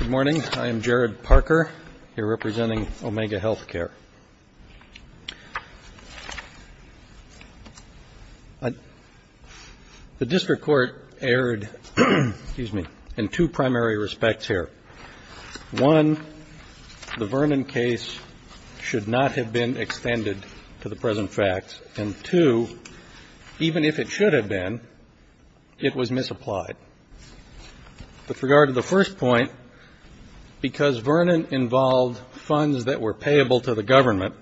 Good morning. I am Jared Parker, here representing Omega Healthcare. The District Court erred in two primary respects here. One, the Vernon case should not have been extended to the present facts. And two, even if it should have been, it was misapplied. With regard to the first point, because Vernon involved funds that were payable to the government,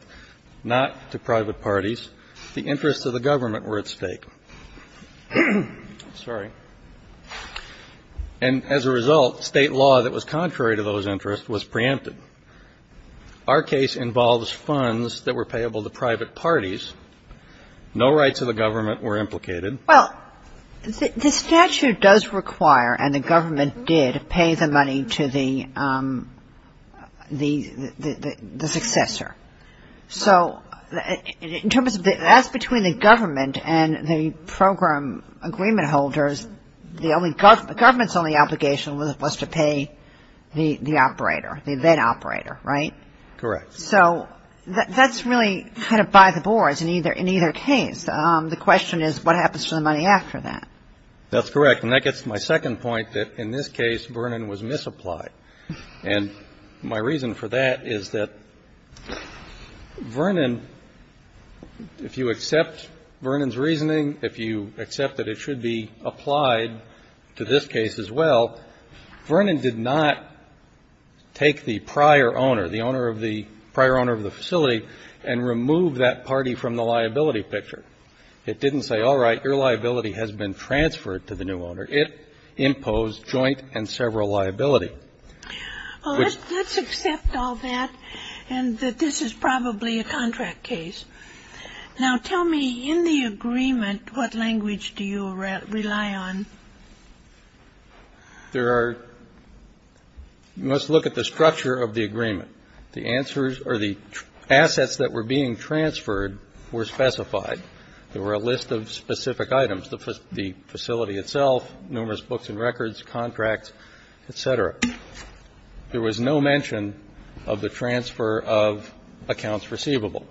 not to private parties, the interests of the government were at stake. Sorry. And as a result, state law that was contrary to those interests was preempted. Our case involves funds that were payable to private parties. No rights of the government were implicated. Well, the statute does require and the government did pay the money to the successor. So that's between the government and the program agreement holders. The government's only obligation was to pay the operator, the event operator, right? Correct. So that's really kind of by the boards in either case. The question is what happens to the money after that? That's correct. And that gets to my second point, that in this case Vernon was misapplied. And my reason for that is that Vernon, if you accept Vernon's reasoning, if you accept that it should be applied to this case as well, Vernon did not take the prior owner, the prior owner of the facility, and remove that party from the liability picture. It didn't say, all right, your liability has been transferred to the new owner. It imposed joint and several liability. Well, let's accept all that and that this is probably a contract case. Now, tell me, in the agreement, what language do you rely on? There are you must look at the structure of the agreement. The answers or the assets that were being transferred were specified. There were a list of specific items. The facility itself, numerous books and records, contracts, et cetera. There was no mention of the transfer of accounts receivable,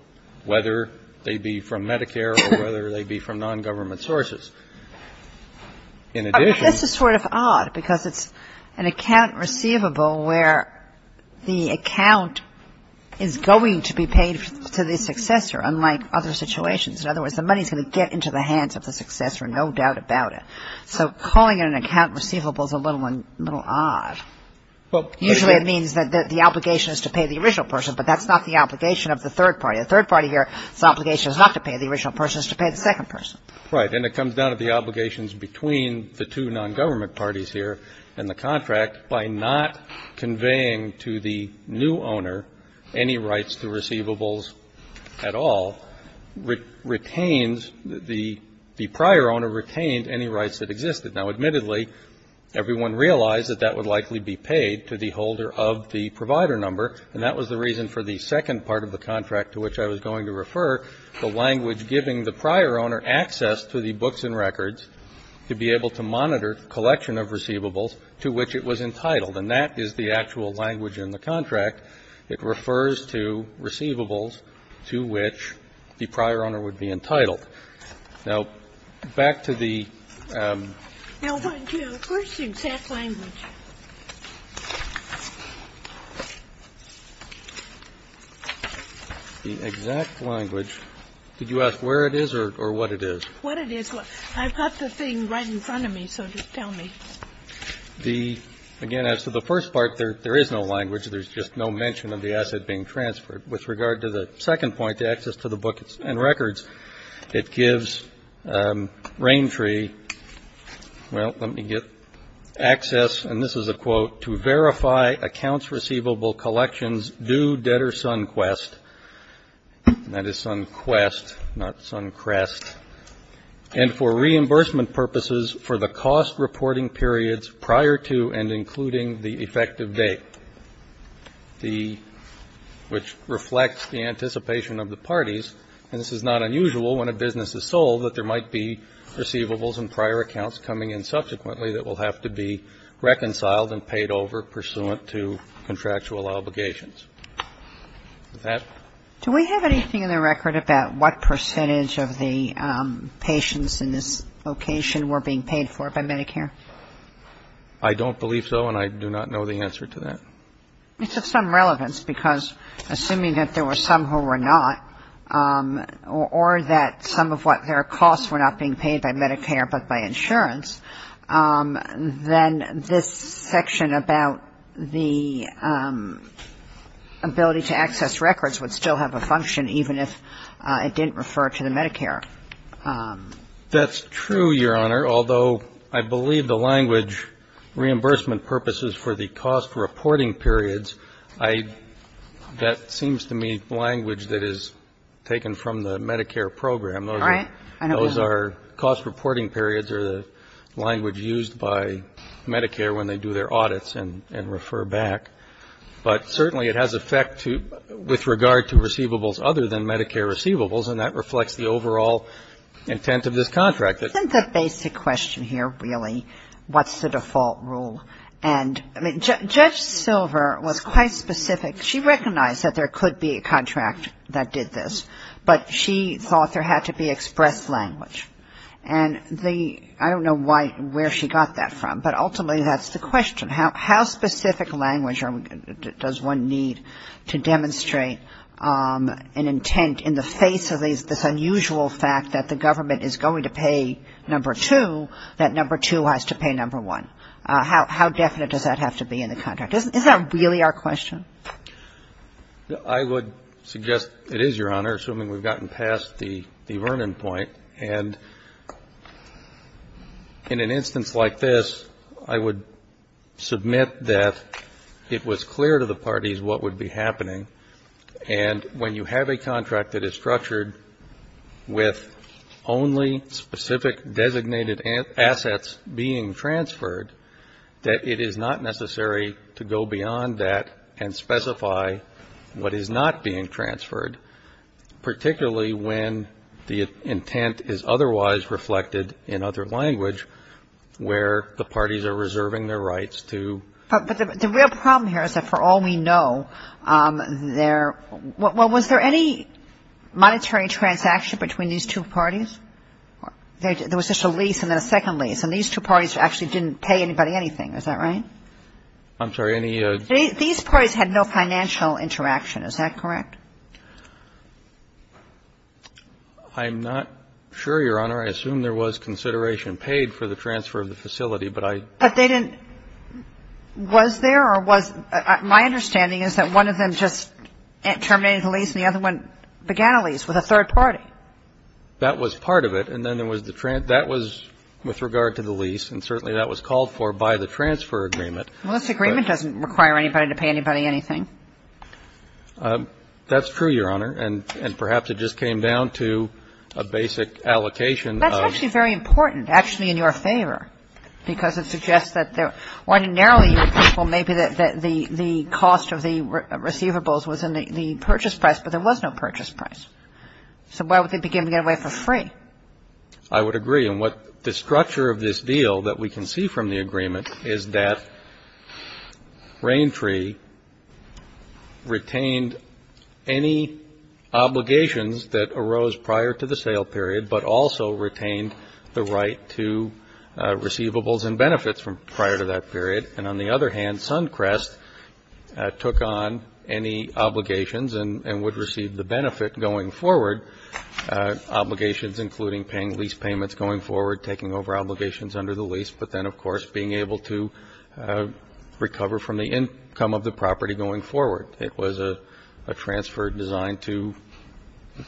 whether they be from Medicare or whether they be from nongovernment sources. This is sort of odd because it's an account receivable where the account is going to be paid to the successor, unlike other situations. In other words, the money is going to get into the hands of the successor, no doubt about it. So calling it an account receivable is a little odd. Usually it means that the obligation is to pay the original person, but that's not the obligation of the third party. The third party here, its obligation is not to pay the original person, it's to pay the second person. Right. And it comes down to the obligations between the two nongovernment parties here and the contract by not conveying to the new owner any rights to receivables at all, retains the prior owner retained any rights that existed. Now, admittedly, everyone realized that that would likely be paid to the holder of the provider number, and that was the reason for the second part of the contract to which I was going to refer, the language giving the prior owner access to the books and records to be able to monitor collection of receivables to which it was entitled. And that is the actual language in the contract. It refers to receivables to which the prior owner would be entitled. Now, back to the the exact language. Did you ask where it is or what it is? What it is. I've got the thing right in front of me, so just tell me. The, again, as to the first part, there is no language. There's just no mention of the asset being transferred. With regard to the second point, the access to the books and records, it gives Raintree, well, let me get access, and this is a quote, to verify accounts receivable collections due debtor Sunquest, and that is Sunquest, not Suncrest, and for reimbursement purposes for the cost reporting periods prior to and including the effective date, the, which reflects the anticipation of the parties, and this is not unusual when a business is sold that there might be receivables and prior accounts coming in subsequently that will have to be reconciled and paid over pursuant to contractual obligations. Does that? Do we have anything in the record about what percentage of the patients in this location were being paid for by Medicare? I don't believe so, and I do not know the answer to that. It's of some relevance because assuming that there were some who were not or that some of what their costs were not being paid by Medicare but by insurance, then this section about the ability to access records would still have a function, even if it didn't refer to the Medicare. That's true, Your Honor, although I believe the language, reimbursement purposes for the cost reporting periods, that seems to me language that is taken from the Medicare program. All right. Those are cost reporting periods are the language used by Medicare when they do their audits and refer back, but certainly it has effect with regard to receivables other than Medicare receivables, and that reflects the overall intent of this contract. Isn't the basic question here really what's the default rule? And, I mean, Judge Silver was quite specific. She recognized that there could be a contract that did this, but she thought there had to be expressed language. And I don't know where she got that from, but ultimately that's the question. How specific language does one need to demonstrate an intent in the face of this unusual fact that the government is going to pay number two, that number two has to pay number one? How definite does that have to be in the contract? Is that really our question? I would suggest it is, Your Honor, assuming we've gotten past the Vernon point. And in an instance like this, I would submit that it was clear to the parties what would be happening, and when you have a contract that is structured with only specific designated assets being transferred, that it is not necessary to go beyond that and specify what is not being transferred, particularly when the intent is otherwise reflected in other language where the parties are reserving their rights to. But the real problem here is that for all we know, there was there any monetary transaction between these two parties? There was just a lease and then a second lease, and these two parties actually didn't pay anybody anything. Is that right? I'm sorry, any. These parties had no financial interaction. Is that correct? I'm not sure, Your Honor. I assume there was consideration paid for the transfer of the facility, but I. But they didn't. Was there or was. My understanding is that one of them just terminated the lease and the other one began a lease with a third party. That was part of it. And then there was the, that was with regard to the lease, and certainly that was called for by the transfer agreement. Well, this agreement doesn't require anybody to pay anybody anything. That's true, Your Honor. And perhaps it just came down to a basic allocation of. That's actually very important, actually in your favor, because it suggests that there ordinarily you would think, well, maybe the cost of the receivables was in the purchase price, but there was no purchase price. So why would they begin to get away for free? I would agree. And what the structure of this deal that we can see from the agreement is that Rain Tree retained any obligations that arose prior to the sale period, but also retained the right to receivables and benefits from prior to that period. And on the other hand, Suncrest took on any obligations and would receive the benefit going forward, obligations including paying lease payments going forward, taking over obligations under the lease, but then, of course, being able to recover from the income of the property going forward. It was a transfer designed to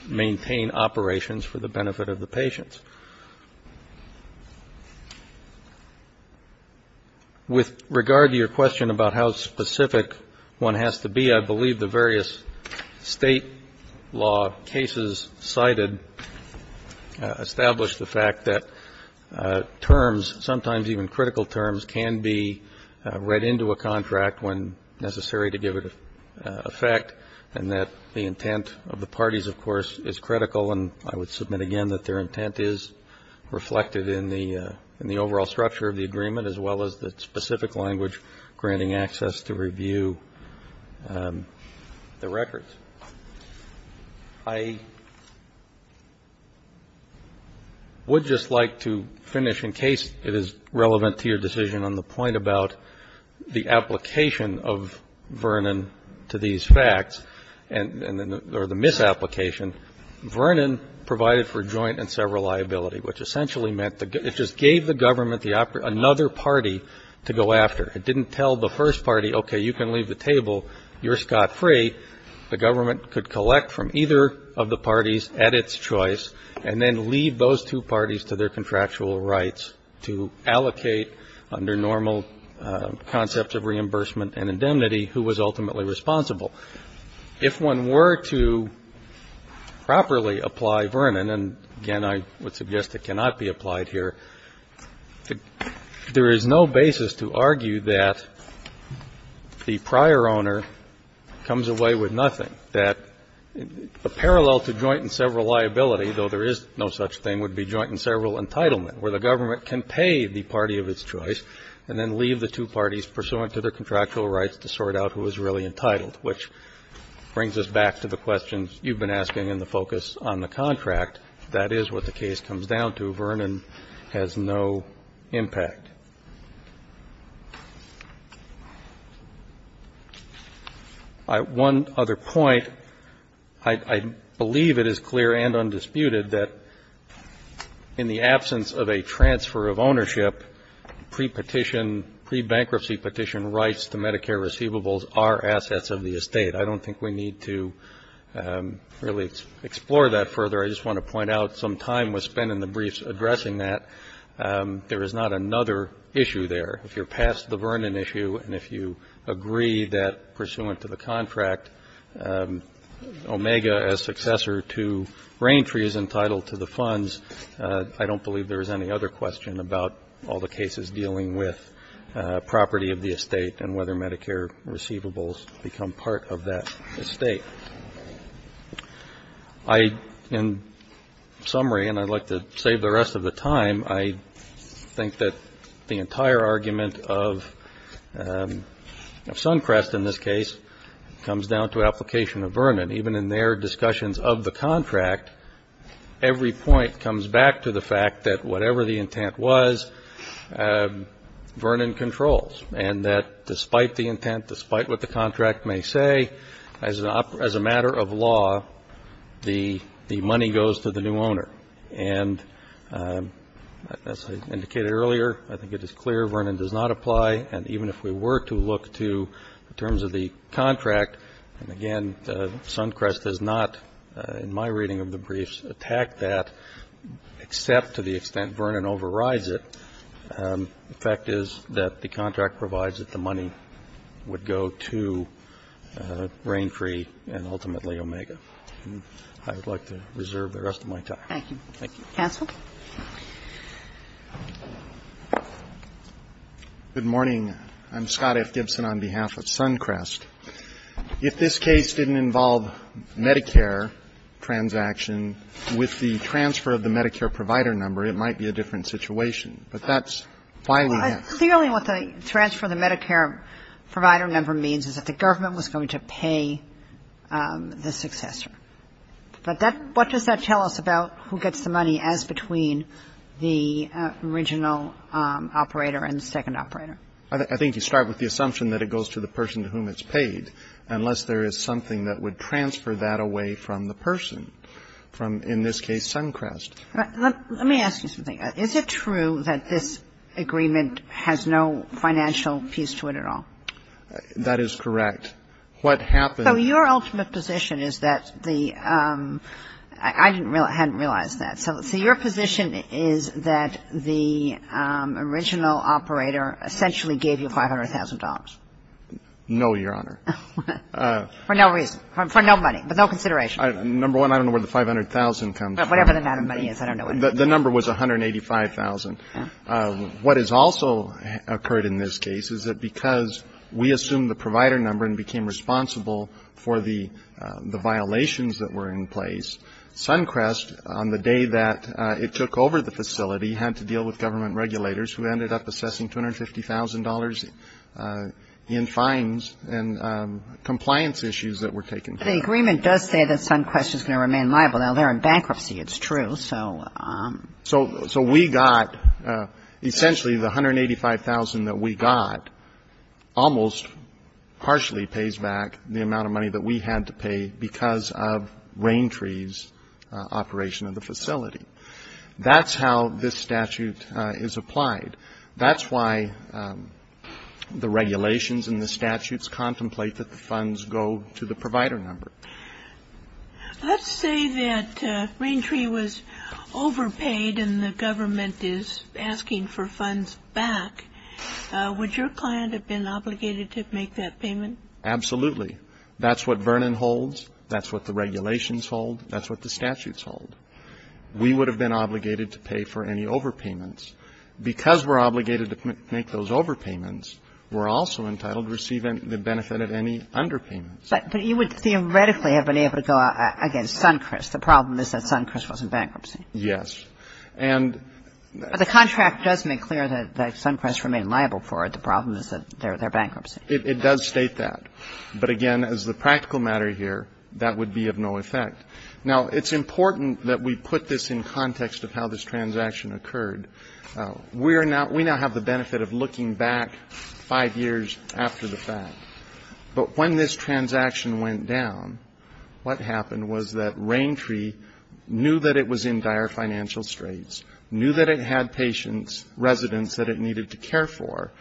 maintain operations for the benefit of the patients. With regard to your question about how specific one has to be, I believe the various state law cases cited establish the fact that terms, sometimes even critical terms, can be read into a contract when necessary to give it effect, and that the intent of the parties, of course, is critical. And I would submit again that their intent is reflected in the overall structure of the agreement, as well as the specific language granting access to review the records. I would just like to finish, in case it is relevant to your decision on the point about the application of Vernon to these facts, or the misapplication, Vernon provided for joint and several liability, which essentially meant it just gave the government another party to go after. It didn't tell the first party, okay, you can leave the table, you're scot-free. The government could collect from either of the parties at its choice and then leave those two parties to their contractual rights to allocate under normal concepts of reimbursement and indemnity who was ultimately responsible. If one were to properly apply Vernon, and again, I would suggest it cannot be applied here, there is no basis to argue that the prior owner comes away with nothing. That a parallel to joint and several liability, though there is no such thing, would be joint and several entitlement, where the government can pay the party of its choice and then leave the two parties pursuant to their contractual rights to sort out who is really entitled, which brings us back to the questions you've been asking in the focus on the contract. If that is what the case comes down to, Vernon has no impact. One other point, I believe it is clear and undisputed that in the absence of a transfer of ownership, pre-petition, pre-bankruptcy petition rights to Medicare receivables are assets of the estate. I don't think we need to really explore that further. I just want to point out some time was spent in the briefs addressing that. There is not another issue there. If you're past the Vernon issue and if you agree that pursuant to the contract, Omega, as successor to Rain Tree, is entitled to the funds, I don't believe there is any other question about all the cases dealing with property of the estate and whether Medicare receivables become part of that estate. In summary, and I'd like to save the rest of the time, I think that the entire argument of Suncrest, in this case, comes down to application of Vernon. Even in their discussions of the contract, every point comes back to the fact that whatever the intent was, Vernon controls. And that despite the intent, despite what the contract may say, as a matter of law, the money goes to the new owner. And as I indicated earlier, I think it is clear Vernon does not apply. And even if we were to look to the terms of the contract, and again, Suncrest does not, in my reading of the briefs, attack that, except to the extent Vernon overrides it. The fact is that the contract provides that the money would go to Rain Tree and ultimately Omega. And I would like to reserve the rest of my time. Thank you. Thank you. Counsel? Good morning. I'm Scott F. Gibson on behalf of Suncrest. If this case didn't involve Medicare transaction with the transfer of the Medicare provider number, it might be a different situation. But that's why we asked. Clearly what the transfer of the Medicare provider number means is that the government was going to pay the successor. But that – what does that tell us about who gets the money as between the original operator and the second operator? I think you start with the assumption that it goes to the person to whom it's paid, unless there is something that would transfer that away from the person, from, in this case, Suncrest. Let me ask you something. Is it true that this agreement has no financial piece to it at all? That is correct. What happened – So your ultimate position is that the – I hadn't realized that. So your position is that the original operator essentially gave you $500,000? No, Your Honor. For no reason? For no money? But no consideration? Number one, I don't know where the $500,000 comes from. Whatever the amount of money is, I don't know. The number was $185,000. What has also occurred in this case is that because we assumed the provider number and became responsible for the violations that were in place, Suncrest, on the day that it took over the facility, had to deal with government regulators who ended up assessing $250,000 in fines and compliance issues that were taken care of. But the agreement does say that Suncrest is going to remain liable. Now, they're in bankruptcy. It's true. So we got – essentially, the $185,000 that we got almost partially pays back the amount of money that we had to pay because of Raintree's operation of the facility. That's how this statute is applied. That's why the regulations and the statutes contemplate that the funds go to the provider number. Let's say that Raintree was overpaid and the government is asking for funds back. Would your client have been obligated to make that payment? Absolutely. That's what Vernon holds. That's what the regulations hold. That's what the statutes hold. We would have been obligated to pay for any overpayments. Because we're obligated to make those overpayments, we're also entitled to receive the benefit of any underpayments. But you would theoretically have been able to go against Suncrest. The problem is that Suncrest was in bankruptcy. Yes. But the contract does make clear that Suncrest remained liable for it. The problem is that they're in bankruptcy. It does state that. But, again, as the practical matter here, that would be of no effect. Now, it's important that we put this in context of how this transaction occurred. We now have the benefit of looking back five years after the fact. But when this transaction went down, what happened was that Raintree knew that it was in dire financial straits, knew that it had patients, residents that it needed to care for,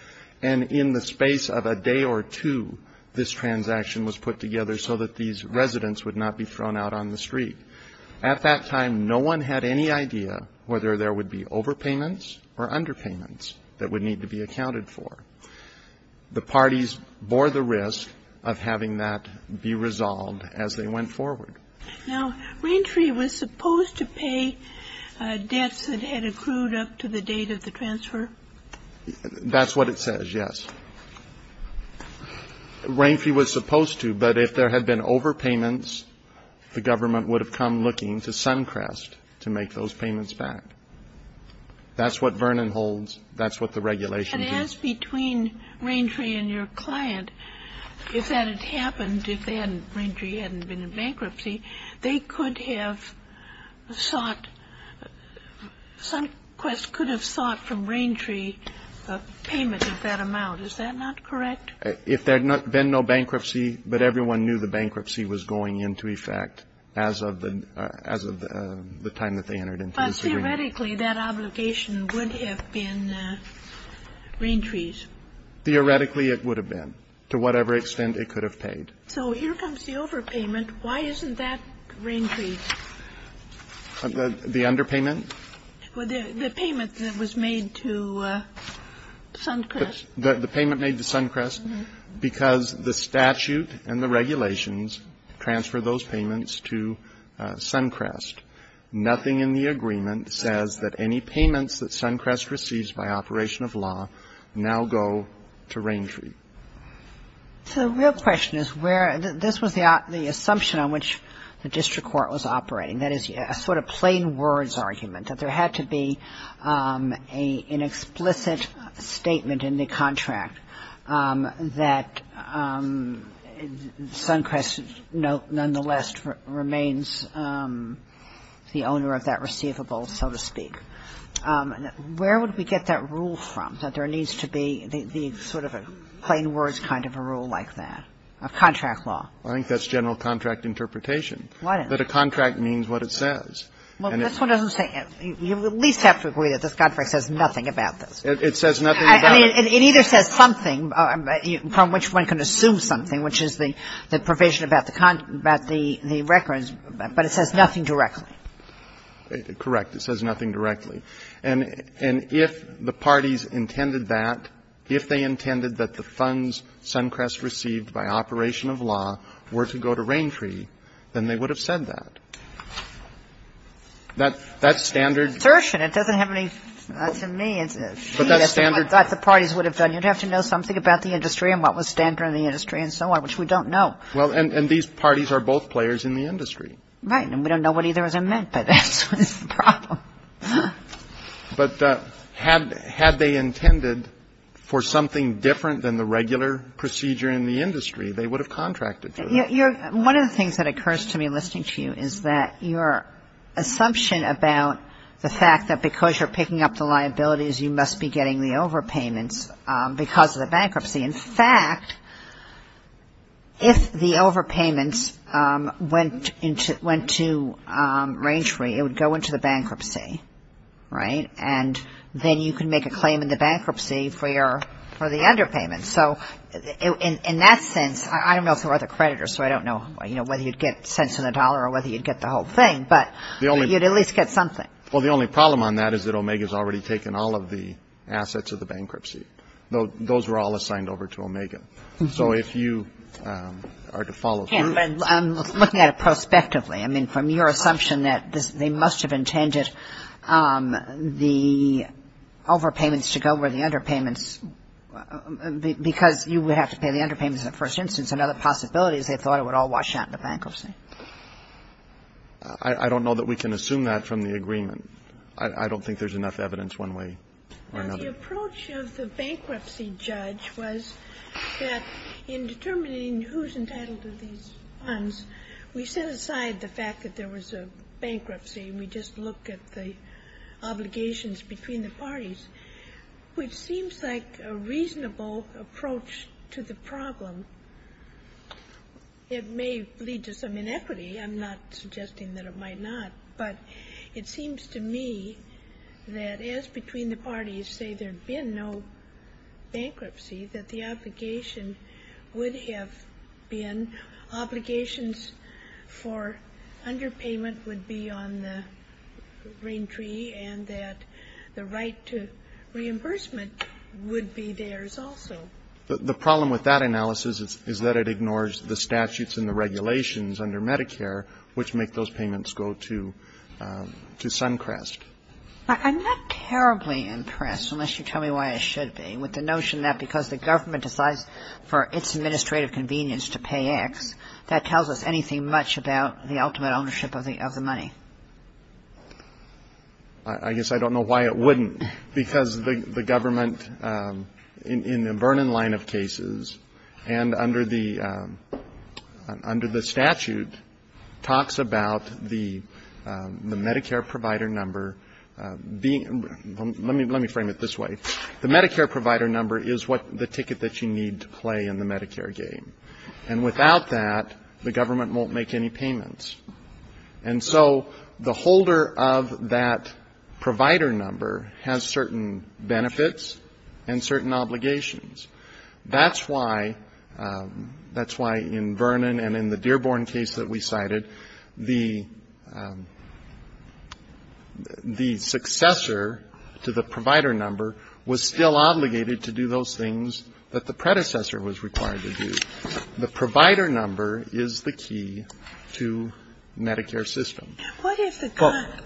and in the space of a day or two, this transaction was put together so that these residents would not be thrown out on the street. At that time, no one had any idea whether there would be overpayments or underpayments that would need to be accounted for. The parties bore the risk of having that be resolved as they went forward. Now, Raintree was supposed to pay debts that had accrued up to the date of the transfer? That's what it says, yes. Raintree was supposed to, but if there had been overpayments, the government would have come looking to Suncrest to make those payments back. That's what Vernon holds. That's what the regulations are. And as between Raintree and your client, if that had happened, if Raintree hadn't been in bankruptcy, they could have sought, Suncrest could have sought from Raintree a payment of that amount. Is that not correct? If there had been no bankruptcy, but everyone knew the bankruptcy was going into effect as of the time that they entered into this agreement. But theoretically, that obligation would have been Raintree's. Theoretically, it would have been, to whatever extent it could have paid. So here comes the overpayment. Why isn't that Raintree's? The underpayment? The payment that was made to Suncrest. The payment made to Suncrest? Uh-huh. Because the statute and the regulations transfer those payments to Suncrest. Nothing in the agreement says that any payments that Suncrest receives by operation of law now go to Raintree. So the real question is where the – this was the assumption on which the district court was operating. That is a sort of plain words argument, that there had to be an explicit statement in the contract that Suncrest nonetheless remains the owner of that receivable, so to speak. Where would we get that rule from, that there needs to be the sort of a plain words kind of a rule like that, a contract law? I think that's general contract interpretation. Why not? That a contract means what it says. Well, this one doesn't say – you at least have to agree that this contract says nothing about this. It says nothing about it. I mean, it either says something from which one can assume something, which is the provision about the records, but it says nothing directly. Correct. It says nothing directly. And if the parties intended that, if they intended that the funds Suncrest received by operation of law were to go to Raintree, then they would have said that. That's standard. It doesn't have any assertion. It doesn't have any – to me, it's a – But that's standard. That's what I thought the parties would have done. You'd have to know something about the industry and what was standard in the industry and so on, which we don't know. Well, and these parties are both players in the industry. Right. And we don't know what either of them meant, but that's the problem. But had they intended for something different than the regular procedure in the industry, they would have contracted for that. One of the things that occurs to me listening to you is that your assumption about the fact that because you're picking up the liabilities, you must be getting the overpayments because of the bankruptcy. In fact, if the overpayments went to Raintree, it would go into the bankruptcy, right? And then you could make a claim in the bankruptcy for the underpayments. So in that sense, I don't know if there were other creditors, so I don't know whether you'd get cents on the dollar or whether you'd get the whole thing, but you'd at least get something. Well, the only problem on that is that Omega has already taken all of the assets of the bankruptcy. Those were all assigned over to Omega. So if you are to follow through with this. I'm looking at it prospectively. I mean, from your assumption that they must have intended the overpayments to go over the underpayments because you would have to pay the underpayments in the first instance and other possibilities, they thought it would all wash out in the bankruptcy. I don't know that we can assume that from the agreement. I don't think there's enough evidence one way or another. Well, the approach of the bankruptcy judge was that in determining who's entitled to these funds, we set aside the fact that there was a bankruptcy. We just look at the obligations between the parties, which seems like a reasonable approach to the problem. It may lead to some inequity. I'm not suggesting that it might not, but it seems to me that as between the parties say there'd been no bankruptcy, that the obligation would have been obligations for underpayment would be on the green tree and that the right to reimbursement would be theirs also. The problem with that analysis is that it ignores the statutes and the regulations under Medicare, which make those payments go to Suncrest. I'm not terribly impressed, unless you tell me why I should be, with the notion that because the government decides for its administrative convenience to pay X, that tells us anything much about the ultimate ownership of the money. I guess I don't know why it wouldn't, because the government in the Vernon line of cases and under the statute talks about the Medicare provider number being ‑‑ let me frame it this way. The Medicare provider number is the ticket that you need to play in the Medicare game. And without that, the government won't make any payments. And so the holder of that provider number has certain benefits and certain obligations. That's why in Vernon and in the Dearborn case that we cited, the successor to the provider number was still obligated to do those things that the predecessor was required to do. The provider number is the key to Medicare's system. What if the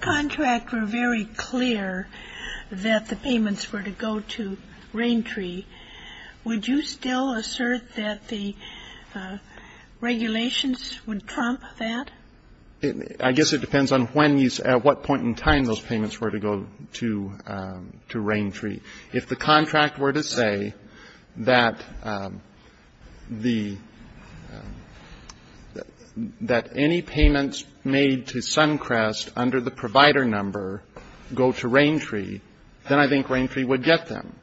contract were very clear that the payments were to go to Raintree? Would you still assert that the regulations would trump that? I guess it depends on when you ‑‑ at what point in time those payments were to go to Raintree. If the contract were to say that the ‑‑ that any payments made to Suncrest under the provider number go to Raintree, then I think Raintree would get them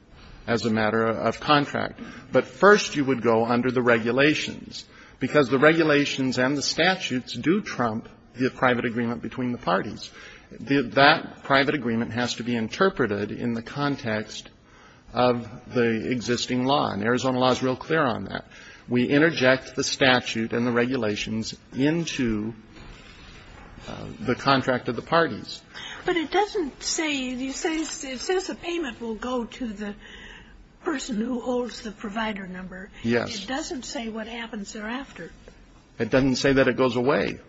as a matter of contract. But first you would go under the regulations, because the regulations and the statutes do trump the private agreement between the parties. That private agreement has to be interpreted in the context of the existing law. And Arizona law is real clear on that. We interject the statute and the regulations into the contract of the parties. But it doesn't say ‑‑ it says the payment will go to the person who holds the provider number. Yes. It doesn't say what happens thereafter. It doesn't say that it goes away.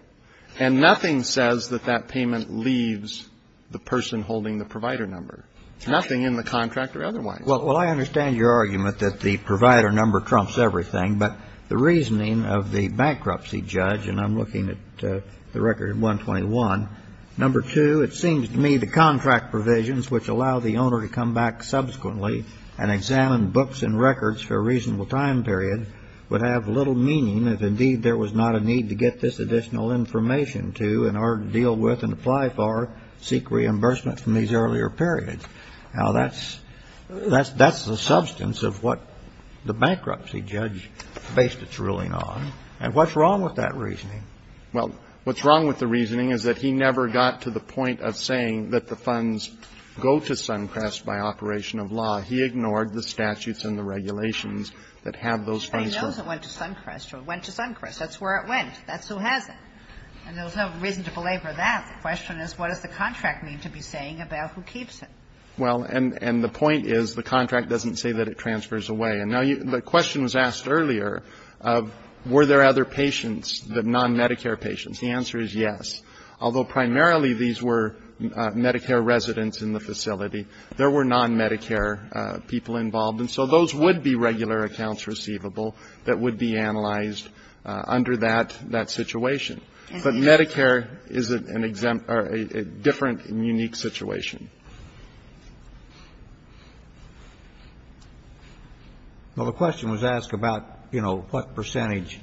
And nothing says that that payment leaves the person holding the provider number. Nothing in the contract or otherwise. Well, I understand your argument that the provider number trumps everything. But the reasoning of the bankruptcy judge, and I'm looking at the record at 121, number two, it seems to me the contract provisions which allow the owner to come back subsequently and examine books and records for a reasonable time period would have little meaning if indeed there was not a need to get this additional information to, in order to deal with and apply for, seek reimbursement from these earlier periods. Now, that's the substance of what the bankruptcy judge based its ruling on. And what's wrong with that reasoning? Well, what's wrong with the reasoning is that he never got to the point of saying that the funds go to Suncrest by operation of law. He ignored the statutes and the regulations that have those funds. Everybody knows it went to Suncrest or went to Suncrest. That's where it went. That's who has it. And there was no reason to belabor that. The question is what does the contract mean to be saying about who keeps it? Well, and the point is the contract doesn't say that it transfers away. And now the question was asked earlier of were there other patients, the non-Medicare patients. The answer is yes. Although primarily these were Medicare residents in the facility, there were non-Medicare people involved. And so those would be regular accounts receivable that would be analyzed under that situation. But Medicare is a different and unique situation. Well, the question was asked about, you know, what percentage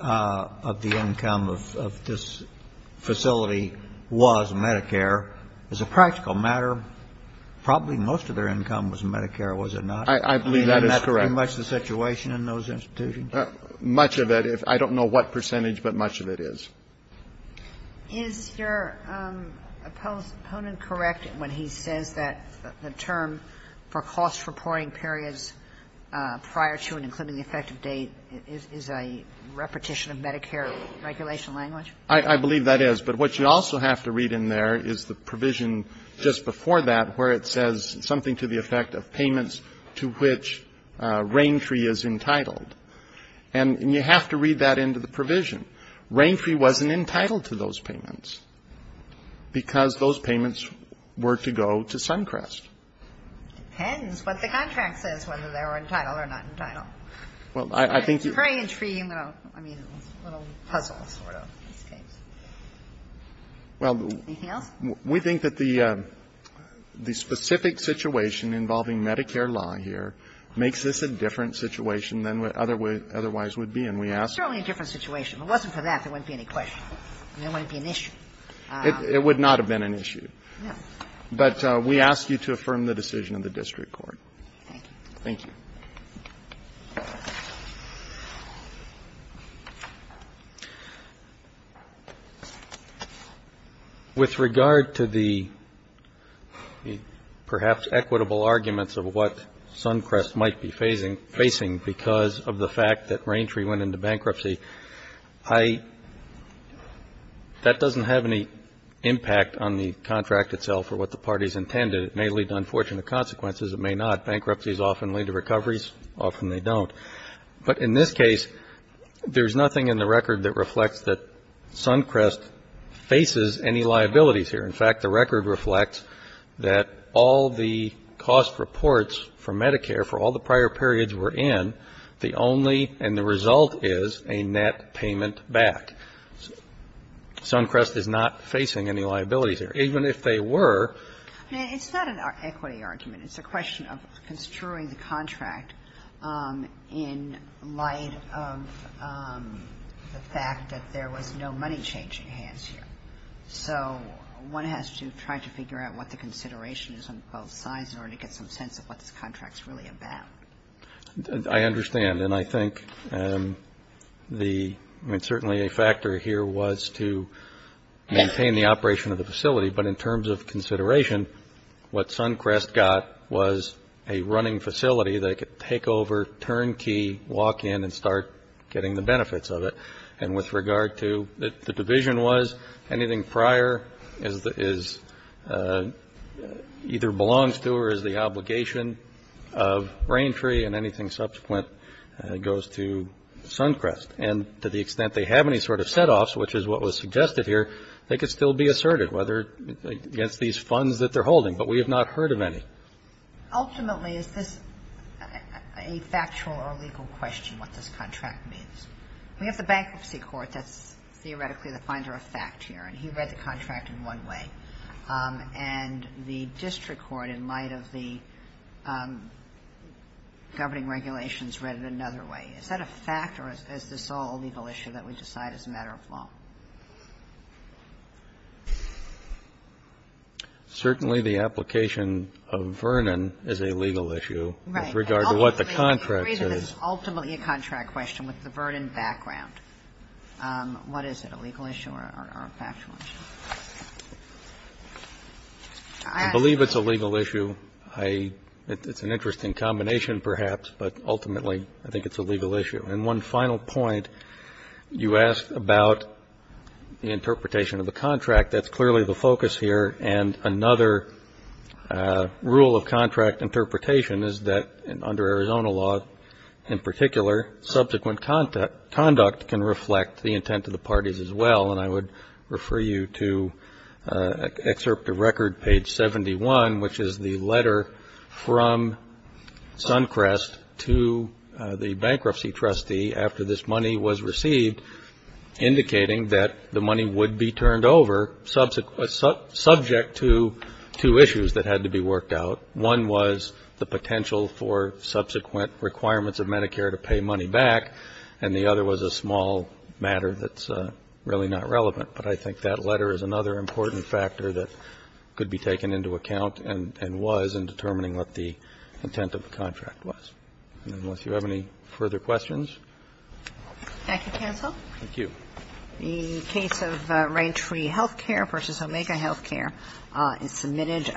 of the income of this facility was Medicare. As a practical matter, probably most of their income was Medicare, was it not? I believe that is correct. Isn't that pretty much the situation in those institutions? Much of it. I don't know what percentage, but much of it is. Is your opponent correct when he says that the term for cost reporting periods prior to and including the effective date is a repetition of Medicare regulation language? I believe that is. But what you also have to read in there is the provision just before that where it says something to the effect of payments to which Raintree is entitled. And you have to read that into the provision. Raintree wasn't entitled to those payments because those payments were to go to Suncrest. It depends what the contract says, whether they're entitled or not entitled. Well, I think you can. It's a very intriguing, I mean, little puzzle sort of case. Anything else? We think that the specific situation involving Medicare law here makes this a different situation than it otherwise would be, and we ask that. It's certainly a different situation. If it wasn't for that, there wouldn't be any question. There wouldn't be an issue. It would not have been an issue. No. But we ask you to affirm the decision of the district court. Thank you. Thank you. With regard to the perhaps equitable arguments of what Suncrest might be facing because of the fact that Raintree went into bankruptcy, that doesn't have any impact on the contract itself or what the parties intended. It may lead to unfortunate consequences. It may not. Bankruptcies often lead to recoveries. Often they don't. But in this case, there's nothing in the record that reflects that Suncrest faces any liabilities here. In fact, the record reflects that all the cost reports for Medicare for all the prior periods we're in, the only and the result is a net payment back. Suncrest is not facing any liabilities here, even if they were. It's not an equity argument. It's a question of construing the contract in light of the fact that there was no money change at hand here. So one has to try to figure out what the consideration is on both sides in order to get some sense of what this contract's really about. And I think the ñ I mean, certainly a factor here was to maintain the operation of the facility, but in terms of consideration, what Suncrest got was a running facility they could take over, turn key, walk in, and start getting the benefits of it. And with regard to the division was, anything prior is either belongs to or is the obligation of Raintree and anything subsequent goes to Suncrest. And to the extent they have any sort of setoffs, which is what was suggested here, they could still be asserted, whether ñ against these funds that they're holding. But we have not heard of any. Ultimately, is this a factual or legal question, what this contract means? We have the Bankruptcy Court. That's theoretically the finder of fact here. And he read the contract in one way. And the district court, in light of the governing regulations, read it another way. Is that a fact or is this all a legal issue that we decide is a matter of law? Certainly, the application of Vernon is a legal issue with regard to what the contract Right. And ultimately, the reason it's ultimately a contract question with the Vernon background, what is it, a legal issue or a factual issue? I believe it's a legal issue. I ñ it's an interesting combination, perhaps, but ultimately, I think it's a legal issue. And one final point, you asked about the interpretation of the contract. That's clearly the focus here. And another rule of contract interpretation is that under Arizona law, in particular, subsequent conduct can reflect the intent of the parties as well. And I would refer you to excerpt of record, page 71, which is the letter from Suncrest to the bankruptcy trustee after this money was received, indicating that the money would be turned over subject to two issues that had to be worked out. One was the potential for subsequent requirements of Medicare to pay money back. And the other was a small matter that's really not relevant. But I think that letter is another important factor that could be taken into account and was in determining what the intent of the contract was. And unless you have any further questions. Thank you, counsel. Thank you. The case of Rain Tree Healthcare v. Omega Healthcare is submitted.